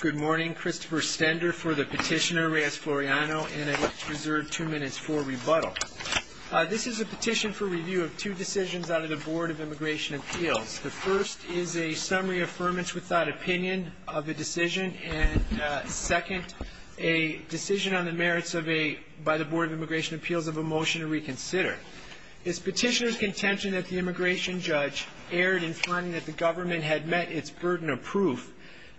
Good morning, Christopher Stender for the petitioner Reyes-Floriano and I reserve two minutes for rebuttal. This is a petition for review of two decisions out of the Board of Immigration Appeals. The first is a summary affirmance without opinion of the decision, and second, a decision on the merits by the Board of Immigration Appeals of a motion to reconsider. It's petitioner's contention that the immigration judge erred in finding that the government had met its burden of proof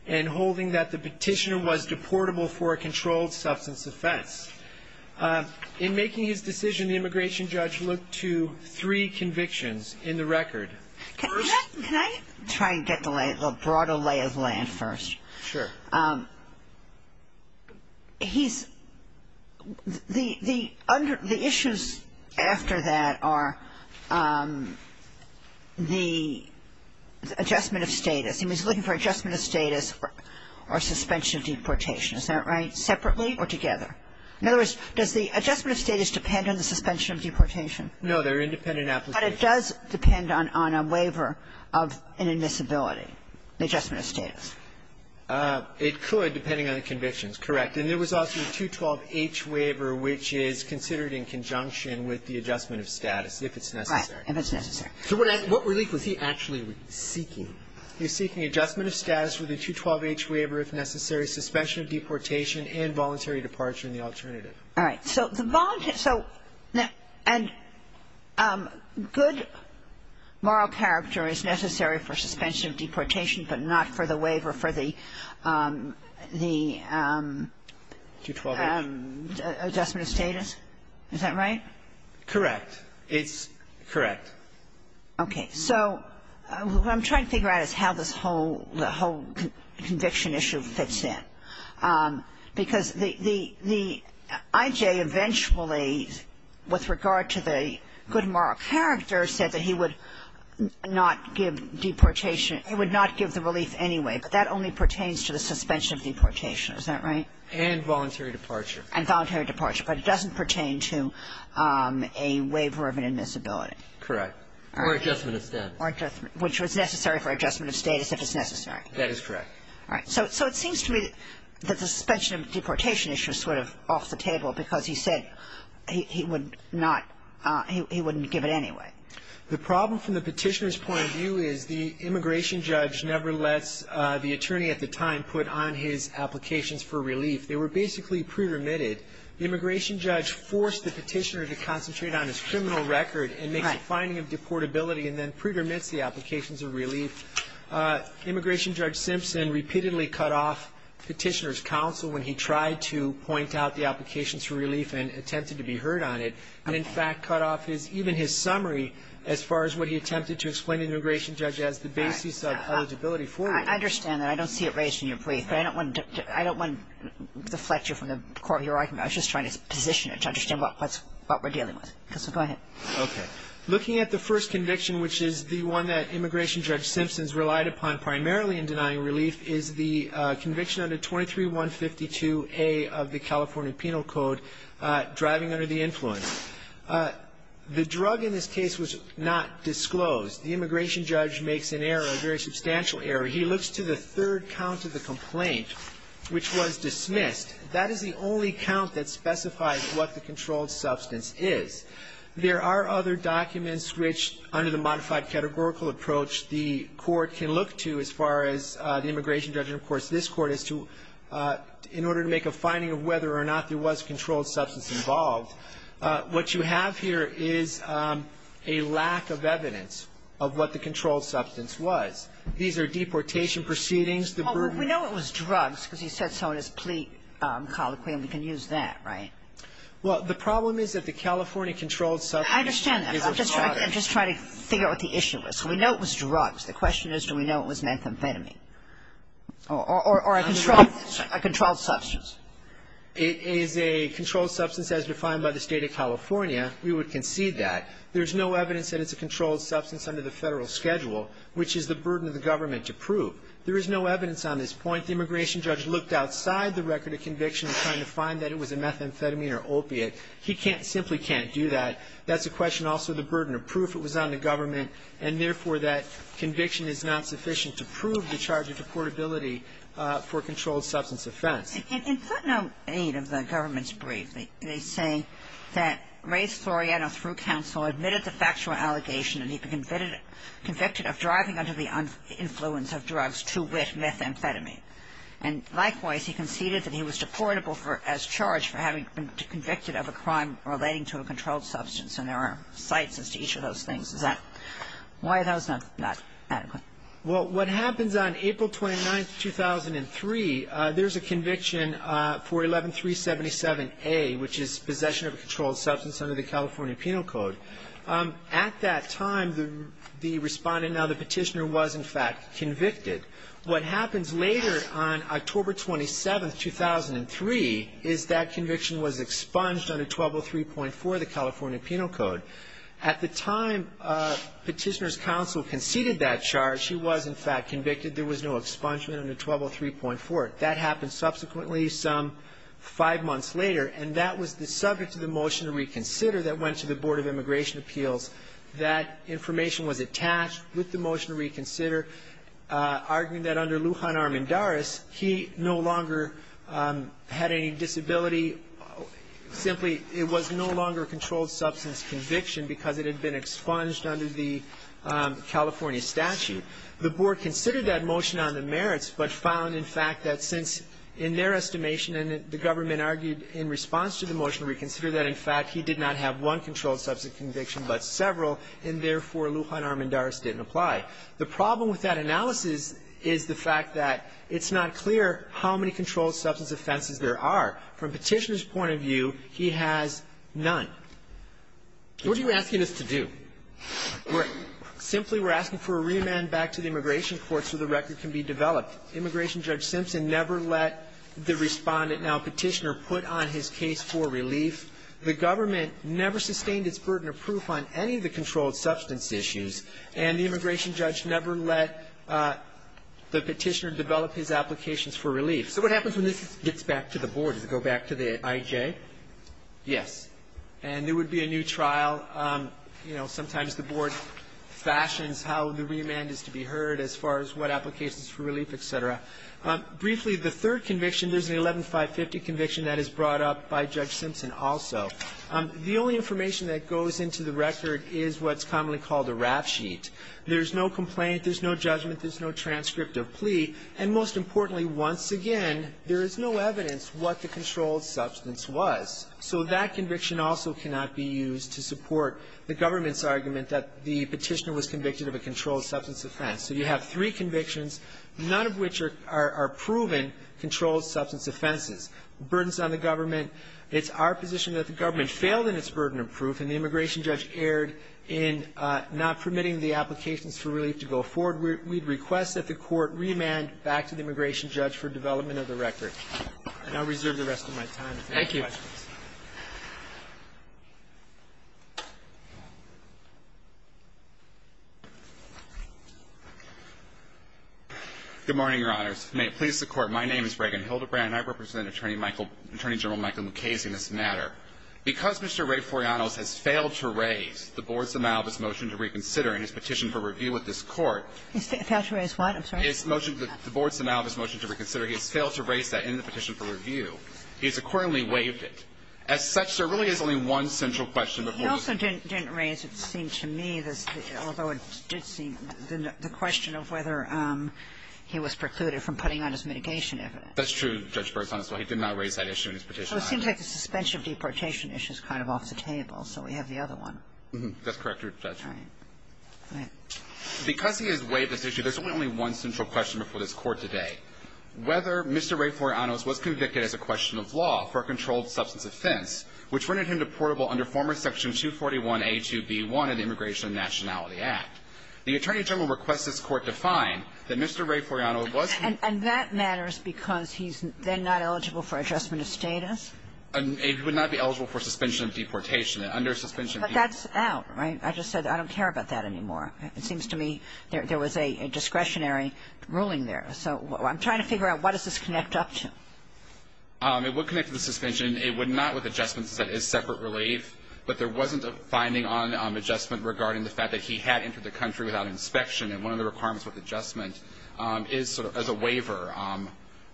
and holding that the petitioner was deportable for a controlled substance offense. In making his decision, the immigration judge looked to three convictions in the record. Can I try and get the broader lay of the land first? Sure. He's the under the issues after that are the adjustment of status. He was looking for adjustment of status or suspension of deportation. Is that right? Separately or together? In other words, does the adjustment of status depend on the suspension of deportation? No, they're independent applications. But it does depend on a waiver of an admissibility, the adjustment of status. It could, depending on the convictions. Correct. And there was also a 212H waiver, which is considered in conjunction with the adjustment of status, if it's necessary. Right. If it's necessary. So what relief was he actually seeking? He was seeking adjustment of status with a 212H waiver if necessary, suspension of deportation, and voluntary departure in the alternative. All right. So the voluntary so and good moral character is necessary for suspension of deportation, but not for the waiver for the adjustment of status? Is that right? Correct. It's correct. Okay. So what I'm trying to figure out is how this whole conviction issue fits in. Because the IJ eventually, with regard to the good moral character, said that he would not give deportation, he would not give the relief anyway, but that only pertains to the suspension of deportation. Is that right? And voluntary departure. And voluntary departure. But it doesn't pertain to a waiver of an admissibility. Correct. Or adjustment of status. Or adjustment, which was necessary for adjustment of status if it's necessary. That is correct. All right. So it seems to me that the suspension of deportation issue is sort of off the table because he said he would not, he wouldn't give it anyway. The problem from the petitioner's point of view is the immigration judge never lets the attorney at the time put on his applications for relief. They were basically pre-remitted. The immigration judge forced the petitioner to concentrate on his criminal record and makes a finding of deportability and then pre-remits the applications of relief. Immigration Judge Simpson repeatedly cut off petitioner's counsel when he tried to point out the applications for relief and attempted to be heard on it, and in fact cut off his, even his summary as far as what he attempted to explain to the immigration judge as the basis of eligibility for relief. I understand that. I don't see it raised in your brief, but I don't want to deflect you from the court you're talking about. I was just trying to position it to understand what we're dealing with. So go ahead. Okay. Looking at the first conviction, which is the one that Immigration Judge Simpson's relied upon primarily in denying relief, is the conviction under 23-152A of the California Penal Code, driving under the influence. The drug in this case was not disclosed. The immigration judge makes an error, a very substantial error. He looks to the third count of the complaint, which was dismissed. That is the only count that specifies what the controlled substance is. There are other documents which, under the modified categorical approach, the court can look to as far as the immigration judge and, of course, this court, in order to make a finding of whether or not there was a controlled substance involved, what you have here is a lack of evidence of what the controlled substance was. These are deportation proceedings. Well, we know it was drugs because he said so in his plea colloquium. We can use that, right? Well, the problem is that the California controlled substance is a drug. I understand that. I'm just trying to figure out what the issue is. So we know it was drugs. The question is do we know it was methamphetamine? Or a controlled substance? It is a controlled substance as defined by the State of California. We would concede that. There's no evidence that it's a controlled substance under the Federal schedule, which is the burden of the government to prove. There is no evidence on this point. The immigration judge looked outside the record of conviction, trying to find that it was a methamphetamine or opiate. He can't, simply can't do that. That's a question also of the burden of proof. It was on the government, and, therefore, that conviction is not sufficient to prove the charge of deportability for a controlled substance offense. In footnote 8 of the government's brief, they say that Ray Soriano, through counsel, admitted the factual allegation that he'd been convicted of driving under the influence of drugs to wit methamphetamine. And, likewise, he conceded that he was deportable as charged for having been convicted of a crime relating to a controlled substance. And there are cites as to each of those things. Why is that not adequate? Well, what happens on April 29, 2003, there's a conviction for 11377A, which is possession of a controlled substance under the California Penal Code. At that time, the respondent, now the petitioner, was, in fact, convicted. What happens later on October 27, 2003, is that conviction was expunged under 1203.4 of the California Penal Code. At the time petitioner's counsel conceded that charge, he was, in fact, convicted. There was no expungement under 1203.4. That happened subsequently some five months later, and that was the subject of the motion to reconsider that went to the Board of Immigration Appeals. That information was attached with the motion to reconsider, arguing that under Lujan Armendariz, he no longer had any disability. Simply, it was no longer a controlled substance conviction because it had been expunged under the California statute. The Board considered that motion on the merits, but found, in fact, that since, in their estimation, and the government argued in response to the motion to reconsider that, in fact, he did not have one controlled substance conviction but several, and therefore, Lujan Armendariz didn't apply. The problem with that analysis is the fact that it's not clear how many controlled substance offenses there are. From petitioner's point of view, he has none. What are you asking us to do? Simply, we're asking for a remand back to the immigration court so the record can be developed. Immigration Judge Simpson never let the Respondent, now Petitioner, put on his case for relief. The government never sustained its burden of proof on any of the controlled substance issues, and the immigration judge never let the Petitioner develop his applications for relief. So what happens when this gets back to the Board? Does it go back to the IJ? Yes. And there would be a new trial. You know, sometimes the Board fashions how the remand is to be heard as far as what applications for relief, et cetera. Briefly, the third conviction, there's an 11-550 conviction that is brought up by Judge Simpson also. The only information that goes into the record is what's commonly called a rap sheet. There's no complaint. There's no judgment. There's no transcript of plea. And most importantly, once again, there is no evidence what the controlled substance was. So that conviction also cannot be used to support the government's argument that the Petitioner was convicted of a controlled substance offense. So you have three convictions, none of which are proven controlled substance offenses. Burdens on the government. It's our position that the government failed in its burden of proof, and the immigration judge erred in not permitting the applications for relief to go forward. Therefore, we request that the Court remand back to the immigration judge for development of the record. And I'll reserve the rest of my time if there are any questions. Thank you. Good morning, Your Honors. May it please the Court, my name is Reagan Hildebrand, and I represent Attorney General Michael Mukasey in this matter. Because Mr. Ray Foriano has failed to raise the Board's amount of his motion to reconsider in his petition for review with this Court. Failed to raise what? I'm sorry. The Board's amount of his motion to reconsider. He has failed to raise that in the petition for review. He has accordingly waived it. As such, there really is only one central question. He also didn't raise, it seemed to me, although it did seem, the question of whether he was precluded from putting on his mitigation evidence. That's true, Judge Burns. He did not raise that issue in his petition. So it seems like the suspension of deportation issue is kind of off the table, so we have the other one. That's correct, Your Honor. All right. Go ahead. Because he has waived this issue, there's only one central question before this Court today. Whether Mr. Ray Foriano was convicted as a question of law for a controlled substance offense, which rendered him deportable under former Section 241a2b1 of the Immigration and Nationality Act. The Attorney General requests this Court define that Mr. Ray Foriano was convicted as a question of law. And that matters because he's then not eligible for adjustment of status? He would not be eligible for suspension of deportation. Under suspension of deportation. But that's out, right? I just said I don't care about that anymore. It seems to me there was a discretionary ruling there. So I'm trying to figure out what does this connect up to? It would connect to the suspension. It would not with adjustments. That is separate relief. But there wasn't a finding on adjustment regarding the fact that he had entered the country without inspection, and one of the requirements with adjustment is sort of as a waiver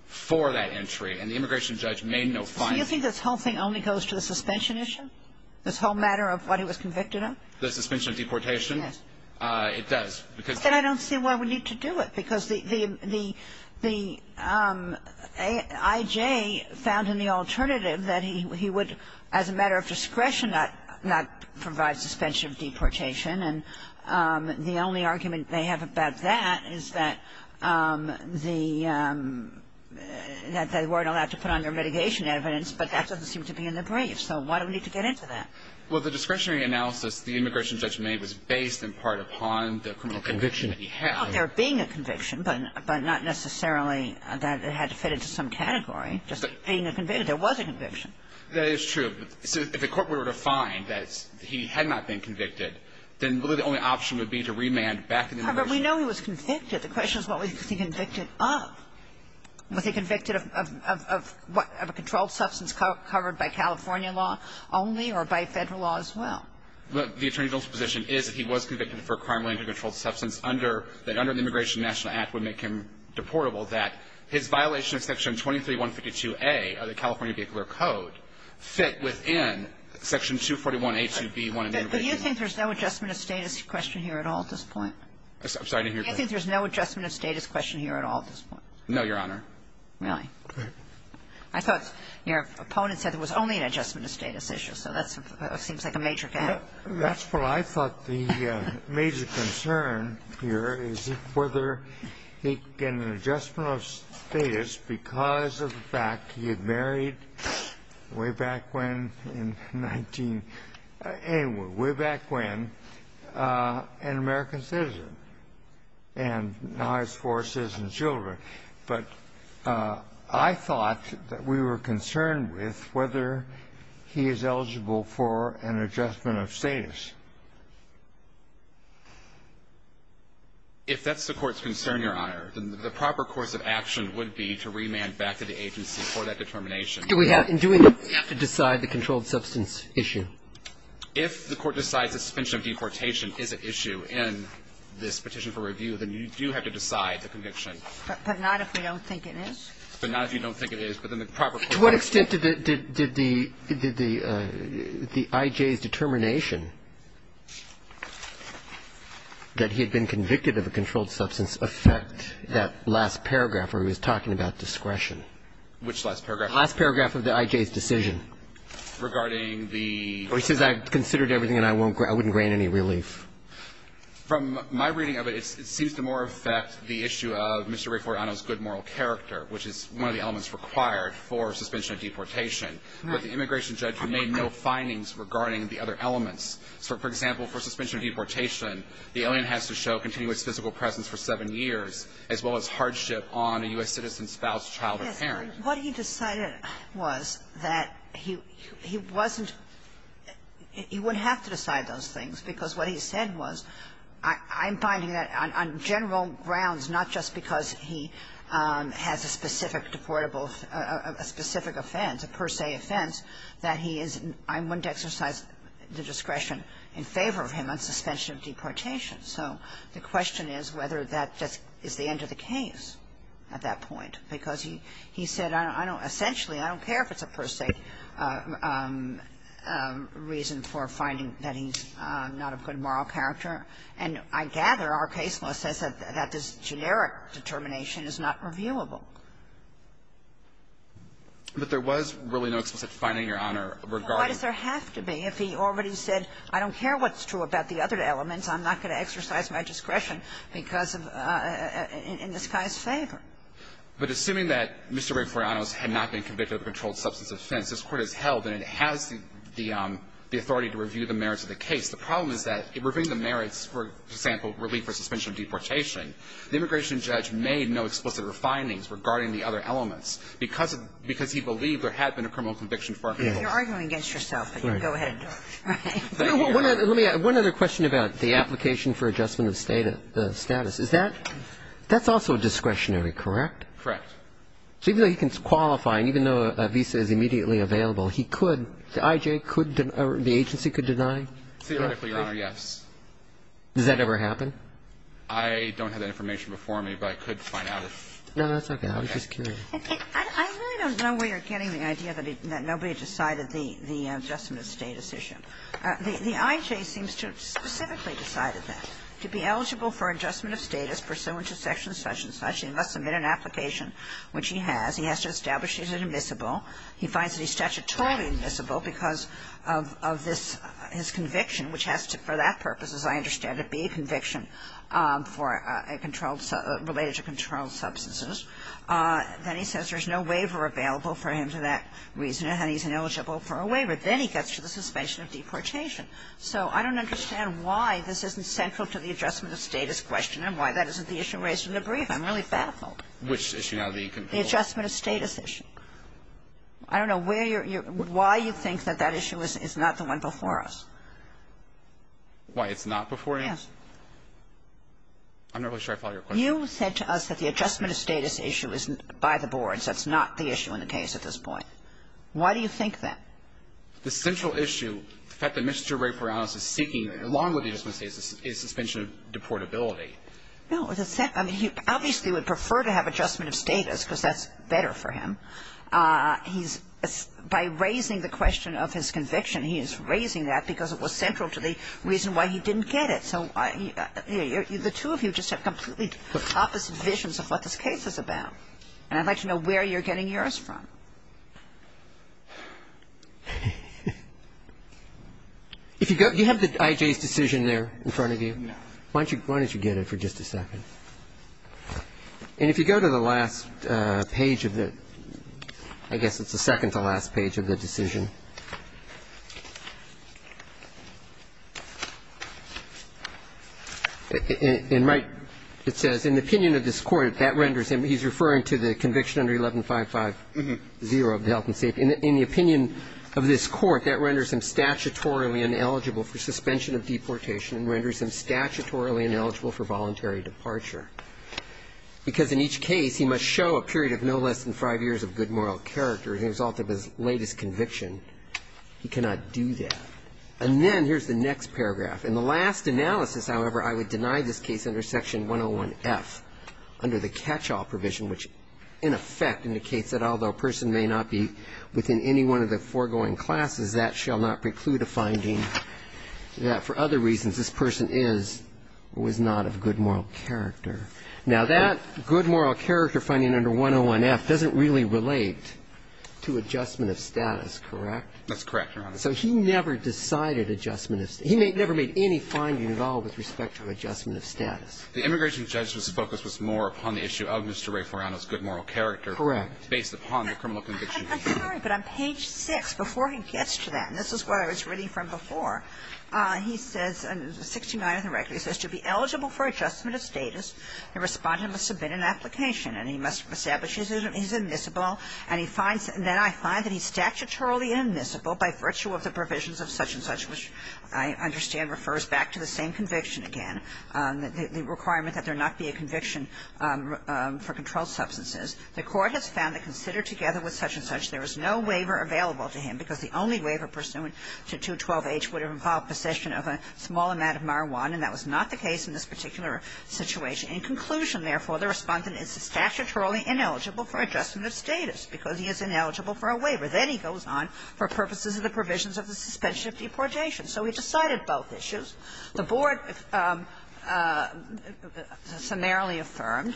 for that entry. And the immigration judge made no finding. So you think this whole thing only goes to the suspension issue? This whole matter of what he was convicted of? The suspension of deportation? Yes. It does. Then I don't see why we need to do it. Because the I.J. found in the alternative that he would, as a matter of discretion, not provide suspension of deportation. And the only argument they have about that is that the they weren't allowed to put on their mitigation evidence, but that doesn't seem to be in the brief. So why do we need to get into that? Well, the discretionary analysis the immigration judge made was based in part upon the criminal conviction that he had. Well, there being a conviction, but not necessarily that it had to fit into some category. Just being a conviction. There was a conviction. That is true. But if the court were to find that he had not been convicted, then really the only option would be to remand back to the immigration judge. But we know he was convicted. The question is what was he convicted of? Was he convicted of a controlled substance covered by California law only or by Federal law as well? Look, the attorney general's position is that he was convicted for a crime related to a controlled substance under the Immigration National Act would make him deportable, that his violation of Section 23152a of the California Vehicular Code fit within Section 241a2b1 of the Immigration National Act. But you think there's no adjustment of status question here at all at this point? I'm sorry, I didn't hear you. You think there's no adjustment of status question here at all at this point? No, Your Honor. Really? I thought your opponent said there was only an adjustment of status issue, so that seems like a major gap. That's what I thought the major concern here is whether he can get an adjustment of status because of the fact he had married way back when in 19 anyway, way back when an American citizen. And now he has four citizen children. But I thought that we were concerned with whether he is eligible for an adjustment of status. If that's the Court's concern, Your Honor, then the proper course of action would be to remand back to the agency for that determination. Do we have to decide the controlled substance issue? If the Court decides suspension of deportation is an issue in this petition for review, then you do have to decide the conviction. But not if we don't think it is? But not if you don't think it is. To what extent did the I.J.'s determination that he had been convicted of a controlled substance affect that last paragraph where he was talking about discretion? Which last paragraph? The last paragraph of the I.J.'s decision. Regarding the ---- He says I considered everything and I wouldn't grain any relief. From my reading of it, it seems to more affect the issue of Mr. Raifuorano's good moral character, which is one of the elements required for suspension of deportation. But the immigration judge made no findings regarding the other elements. For example, for suspension of deportation, the alien has to show continuous physical presence for seven years, as well as hardship on a U.S. citizen spouse, child or parent. What he decided was that he wasn't ---- he wouldn't have to decide those things, because what he said was, I'm finding that on general grounds, not just because he has a specific deportable ---- a specific offense, a per se offense, that he is ---- I wouldn't exercise the discretion in favor of him on suspension of deportation. So the question is whether that is the end of the case at that point. Because he said, I don't ---- essentially, I don't care if it's a per se reason for finding that he's not of good moral character. And I gather our case law says that this generic determination is not reviewable. But there was really no explicit finding, Your Honor, regarding ---- Well, why does there have to be? If he already said, I don't care what's true about the other elements, I'm not going to exercise my discretion because of ---- in this guy's favor. But assuming that Mr. Reforianos had not been convicted of a controlled substance offense, this Court has held and it has the authority to review the merits of the case. The problem is that, reviewing the merits, for example, relief for suspension of deportation, the immigration judge made no explicit findings regarding the other elements, because of the ---- because he believed there had been a criminal conviction for a per se. Right. Right. Right. You're arguing against yourself. Right. But go ahead and do it. Right. Right. Let me ask one other question about the application for adjustment of status. Is that ---- that's also discretionary, correct? Correct. So even though he can qualify and even though a visa is immediately available, he could ---- I.J. could ---- the agency could deny? Theoretically, Your Honor, yes. Does that ever happen? I don't have that information before me, but I could find out if ---- No, that's okay. I was just curious. I really don't know where you're getting the idea that nobody decided the adjustment of status issue. The I.J. seems to have specifically decided that. To be eligible for adjustment of status pursuant to section such and such, he must submit an application, which he has. He has to establish he's admissible. He finds that he's statutorily admissible because of this ---- his conviction, which has to, for that purpose, as I understand it, be a conviction for a controlled ---- related to controlled substances. Then he says there's no waiver available for him for that reason and he's ineligible for a waiver. Then he gets to the suspension of deportation. So I don't understand why this isn't central to the adjustment of status question and why that isn't the issue raised in the brief. I'm really baffled. Which issue now? The adjustment of status issue. I don't know where you're ---- why you think that that issue is not the one before us. Why? It's not before us? Yes. I'm not really sure I follow your question. You said to us that the adjustment of status issue is by the boards. That's not the issue in the case at this point. Why do you think that? The central issue, the fact that Mr. Ray Perales is seeking, along with the adjustment of status, is suspension of deportability. No. I mean, he obviously would prefer to have adjustment of status because that's better for him. He's ---- by raising the question of his conviction, he is raising that because it was central to the reason why he didn't get it. So the two of you just have completely opposite visions of what this case is about. And I'd like to know where you're getting yours from. If you go ---- do you have the IJ's decision there in front of you? No. Why don't you get it for just a second? And if you go to the last page of the ---- I guess it's the second to last page of the decision. In my ---- it says, In the opinion of this court, that renders him ---- he's referring to the conviction under 11-5-5-0 of the health and safety. In the opinion of this court, that renders him statutorily ineligible for suspension of deportation and renders him statutorily ineligible for voluntary departure. Because in each case, he must show a period of no less than five years of good moral character as a result of his latest conviction. He cannot do that. And then here's the next paragraph. In the last analysis, however, I would deny this case under section 101-F, under the catch-all provision, which in effect indicates that although a person may not be within any one of the foregoing classes, that shall not preclude a finding that for other reasons this person is or was not of good moral character. Now, that good moral character finding under 101-F doesn't really relate to adjustment of status, correct? That's correct, Your Honor. So he never decided adjustment of ---- he never made any finding at all with respect to adjustment of status. The immigration judge's focus was more upon the issue of Mr. Ray Foriano's good moral character. Correct. Based upon the criminal conviction. I'm sorry, but on page 6, before he gets to that, and this is where I was reading from before, he says, 69 of the record, he says, To be eligible for adjustment of status, the Respondent must submit an application and he must establish he's admissible and he finds that I find that he's statutorily admissible by virtue of the provisions of such-and-such, which I understand refers back to the same conviction again, the requirement that there not be a conviction for controlled substances. The Court has found that considered together with such-and-such, there is no waiver available to him, because the only waiver pursuant to 212-H would involve possession of a small amount of marijuana, and that was not the case in this particular situation. In conclusion, therefore, the Respondent is statutorily ineligible for adjustment of status, because he is ineligible for a waiver. Then he goes on for purposes of the provisions of the suspension of deportation. So he decided both issues. The Board summarily affirmed,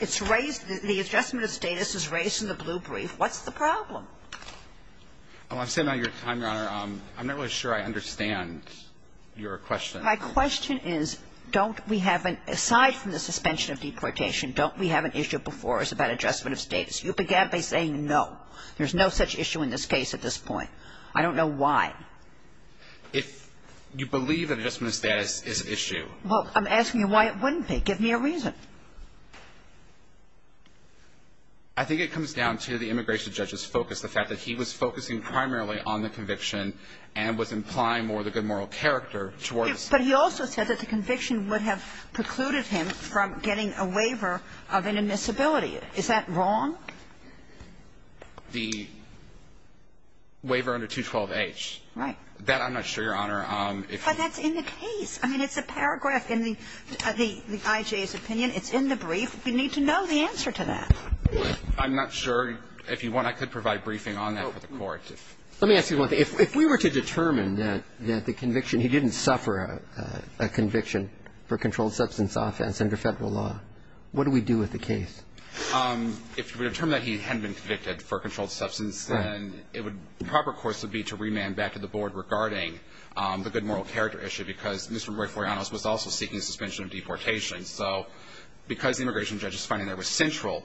it's raised the adjustment of status is raised in the blue brief. What's the problem? Oh, I'm standing on your time, Your Honor. I'm not really sure I understand your question. My question is, don't we have an aside from the suspension of deportation, don't we have an issue before us about adjustment of status? You began by saying no. There's no such issue in this case at this point. I don't know why. If you believe that adjustment of status is an issue. Well, I'm asking you why it wouldn't be. Give me a reason. I think it comes down to the immigration judge's focus, the fact that he was focusing primarily on the conviction and was implying more of the good moral character towards the statute. But he also said that the conviction would have precluded him from getting a waiver of inadmissibility. Is that wrong? The waiver under 212H. Right. That I'm not sure, Your Honor. But that's in the case. I mean, it's a paragraph in the IJ's opinion. It's in the brief. We need to know the answer to that. I'm not sure. If you want, I could provide briefing on that for the Court. Let me ask you one thing. If we were to determine that the conviction, he didn't suffer a conviction for controlled substance offense under Federal law, what do we do with the case? If we determine that he hadn't been convicted for controlled substance, then it would be proper course would be to remand back to the Board regarding the good moral character issue, because Mr. Roy Foriano was also seeking suspension of deportation. So because the immigration judge is finding there was central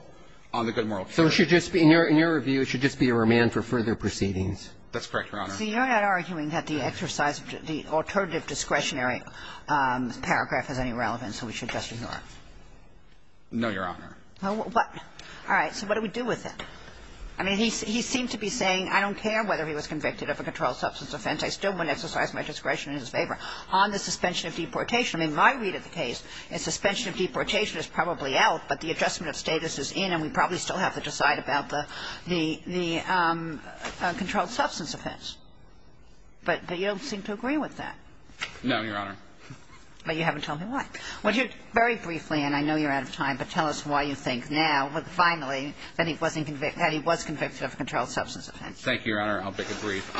on the good moral character. So it should just be, in your review, it should just be a remand for further proceedings. That's correct, Your Honor. So you're not arguing that the exercise of the alternative discretionary paragraph has any relevance, so we should just ignore it? No, Your Honor. All right. So what do we do with it? I mean, he seemed to be saying, I don't care whether he was convicted of a controlled substance offense. I still want to exercise my discretion in his favor on the suspension of deportation. I mean, my read of the case is suspension of deportation is probably out, but the adjustment of status is in, and we probably still have to decide about the controlled substance offense. But you don't seem to agree with that. No, Your Honor. But you haven't told me why. Well, very briefly, and I know you're out of time, but tell us why you think now, finally, that he wasn't convicted – that he was convicted of a controlled substance offense. Thank you, Your Honor. I'll make it brief.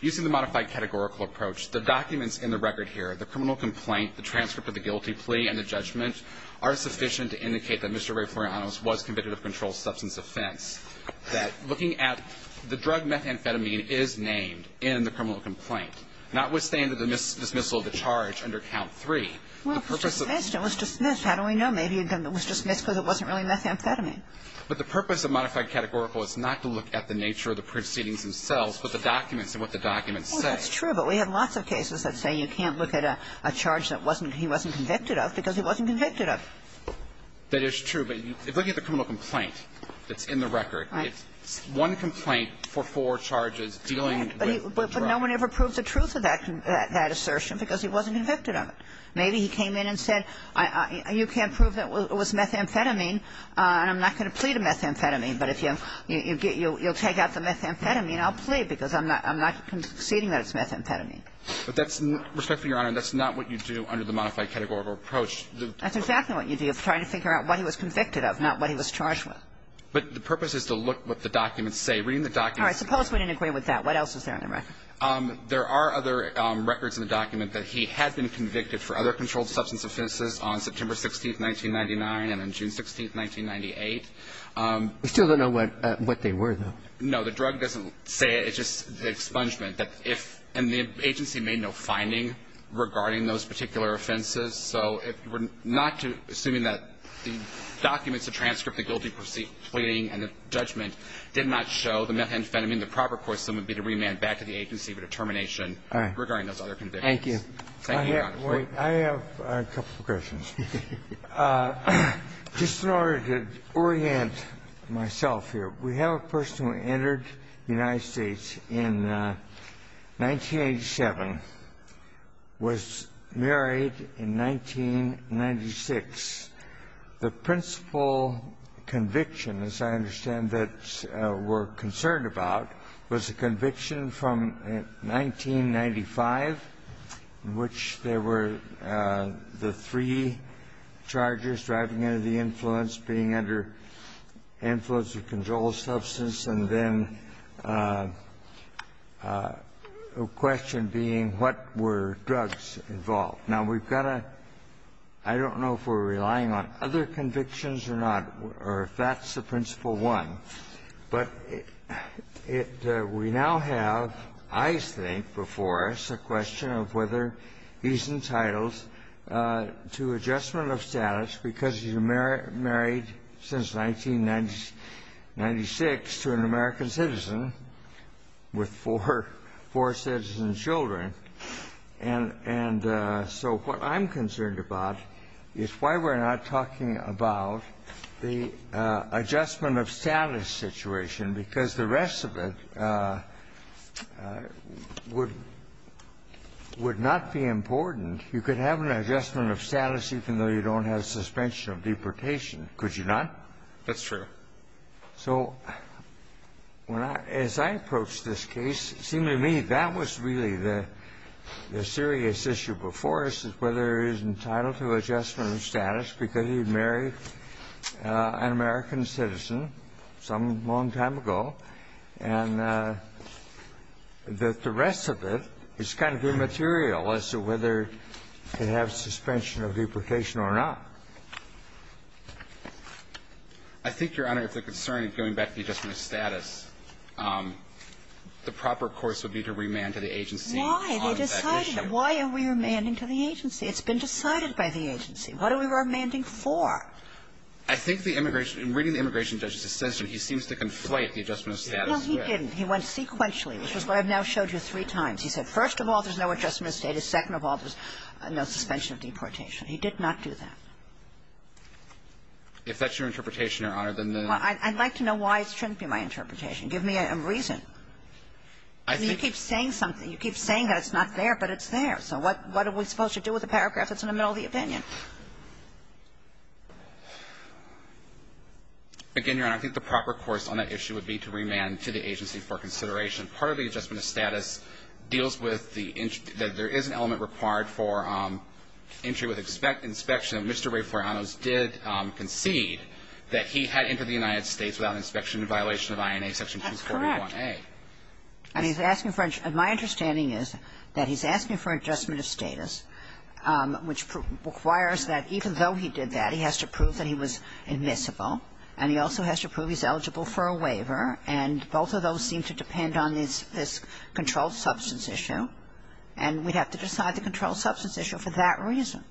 Using the modified categorical approach, the documents in the record here, the criminal complaint, the transcript of the guilty plea and the judgment, are sufficient to indicate that Mr. Ray Florianonos was convicted of a controlled substance offense, that looking at the drug methamphetamine is named in the criminal complaint, notwithstanding the dismissal of the charge under count 3. Well, if it's dismissed, it was dismissed. How do we know maybe it was dismissed because it wasn't really methamphetamine? But the purpose of modified categorical is not to look at the nature of the proceedings themselves, but the documents and what the documents say. Well, that's true. But we have lots of cases that say you can't look at a charge that wasn't – he wasn't convicted of because he wasn't convicted of. That is true. But if you look at the criminal complaint that's in the record, it's one complaint for four charges dealing with drugs. But no one ever proved the truth of that assertion because he wasn't convicted of it. Maybe he came in and said, you can't prove that it was methamphetamine and I'm not going to plead a methamphetamine, but if you'll take out the methamphetamine, I'll plead because I'm not conceding that it's methamphetamine. But that's – respectfully, Your Honor, that's not what you do under the modified categorical approach. That's exactly what you do. You're trying to figure out what he was convicted of, not what he was charged But the purpose is to look at what the documents say. Reading the documents – All right. There are other records in the document that he had been convicted for other controlled substance offenses on September 16th, 1999, and on June 16th, 1998. We still don't know what they were, though. No. The drug doesn't say it. It's just the expungement that if – and the agency made no finding regarding those particular offenses. So we're not assuming that the documents, the transcript, the guilty pleading and the judgment did not show the methamphetamine. We're assuming the proper course, then, would be to remand back to the agency for determination regarding those other convictions. Thank you. Thank you, Your Honor. I have a couple of questions. Just in order to orient myself here, we have a person who entered the United States in 1987, was married in 1996. The principal conviction, as I understand that we're concerned about, was a conviction from 1995 in which there were the three charges, driving under the influence, being under influence of controlled substance, and then a question being what were drugs involved. Now, we've got a – I don't know if we're relying on other convictions or not, or if that's the principal one. But we now have, I think, before us a question of whether he's entitled to adjustment of status because he's married since 1996 to an American citizen with four citizen children. And so what I'm concerned about is why we're not talking about the adjustment of status situation because the rest of it would not be important. You could have an adjustment of status even though you don't have suspension of deportation, could you not? That's true. So when I – as I approach this case, it seemed to me that was really the serious issue before us is whether he's entitled to adjustment of status because he's married an American citizen some long time ago, and that the rest of it is kind of immaterial as to whether to have suspension of deportation or not. I think, Your Honor, if the concern is going back to the adjustment of status, the proper course would be to remand to the agency on that issue. Why? They decided it. Why are we remanding to the agency? It's been decided by the agency. What are we remanding for? I think the immigration – in reading the immigration judge's assention, he seems to conflate the adjustment of status with that. No, he didn't. He went sequentially, which is what I've now showed you three times. He said first of all, there's no adjustment of status. Second of all, there's no suspension of deportation. He did not do that. If that's your interpretation, Your Honor, then the – Well, I'd like to know why it shouldn't be my interpretation. Give me a reason. I think – You keep saying something. You keep saying that it's not there, but it's there. So what are we supposed to do with a paragraph that's in the middle of the opinion? Again, Your Honor, I think the proper course on that issue would be to remand to the agency for consideration. Part of the adjustment of status deals with the – that there is an element required for entry with inspection. Mr. Ray Florianos did concede that he had entered the United States without inspection in violation of INA Section 241A. That's correct. And he's asking for – my understanding is that he's asking for adjustment of status, which requires that even though he did that, he has to prove that he was admissible, and he also has to prove he's eligible for a waiver, and both of those seem to depend on this controlled substance issue, and we'd have to decide the substance issue for that reason.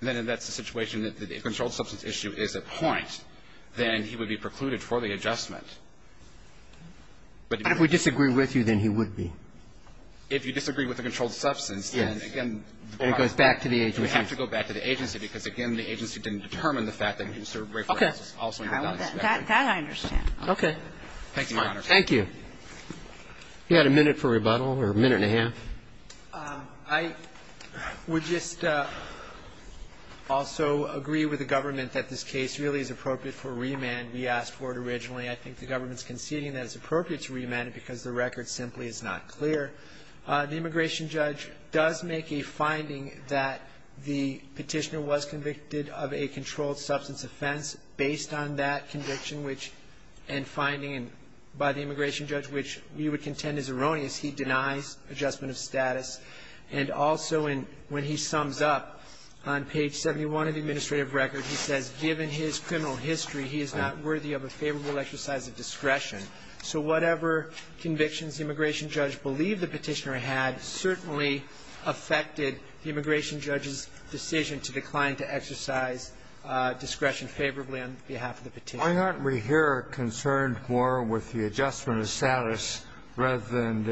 Then that's the situation that the controlled substance issue is a point, then he would be precluded for the adjustment. And if we disagree with you, then he would be. If you disagree with the controlled substance, then, again, the problem is you have to go back to the agency, because, again, the agency didn't determine the fact that Mr. Ray Florianos also entered without inspection. Okay. That I understand. Okay. Thank you, Your Honor. Thank you. You had a minute for rebuttal, or a minute and a half? I would just also agree with the government that this case really is appropriate for remand. We asked for it originally. I think the government's conceding that it's appropriate to remand it because the record simply is not clear. The immigration judge does make a finding that the petitioner was convicted of a controlled substance offense based on that conviction, which – and finding by the immigration judge, which we would contend is erroneous. He denies adjustment of status. And also, when he sums up on page 71 of the administrative record, he says, given his criminal history, he is not worthy of a favorable exercise of discretion. So whatever convictions the immigration judge believed the petitioner had certainly affected the immigration judge's decision to decline to exercise discretion favorably on behalf of the petitioner. Why aren't we here concerned more with the adjustment of status rather than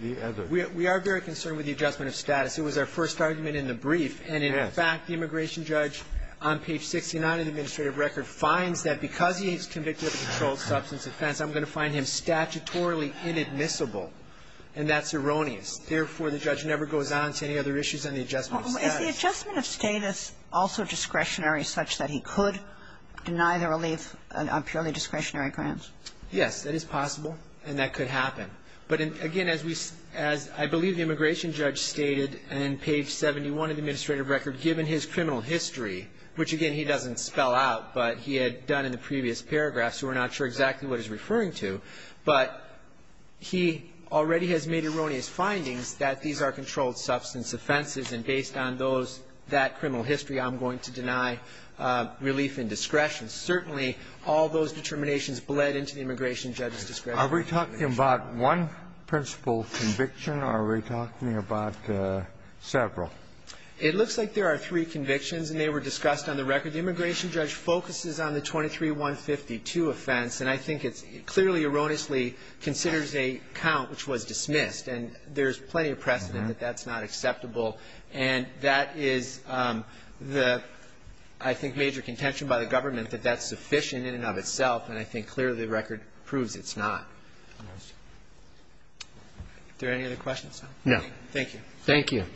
the other? We are very concerned with the adjustment of status. It was our first argument in the brief. And in fact, the immigration judge on page 69 of the administrative record finds that because he is convicted of a controlled substance offense, I'm going to find him statutorily inadmissible. And that's erroneous. Therefore, the judge never goes on to any other issues on the adjustment of status. Is the adjustment of status also discretionary such that he could deny the relief on purely discretionary grounds? Yes. That is possible. And that could happen. But, again, as we see as I believe the immigration judge stated on page 71 of the administrative record, given his criminal history, which, again, he doesn't spell out, but he had done in the previous paragraph, so we're not sure exactly what he's referring to. But he already has made erroneous findings that these are controlled substance offenses, and based on those, that criminal history, I'm going to deny relief in discretion. Certainly, all those determinations bled into the immigration judge's discretion. Are we talking about one principal conviction, or are we talking about several? It looks like there are three convictions, and they were discussed on the record. The immigration judge focuses on the 23-152 offense, and I think it's clearly erroneously considers a count which was dismissed. And there's plenty of precedent that that's not acceptable. And that is the, I think, major contention by the government, that that's sufficient in and of itself, and I think clearly the record proves it's not. Are there any other questions? Thank you.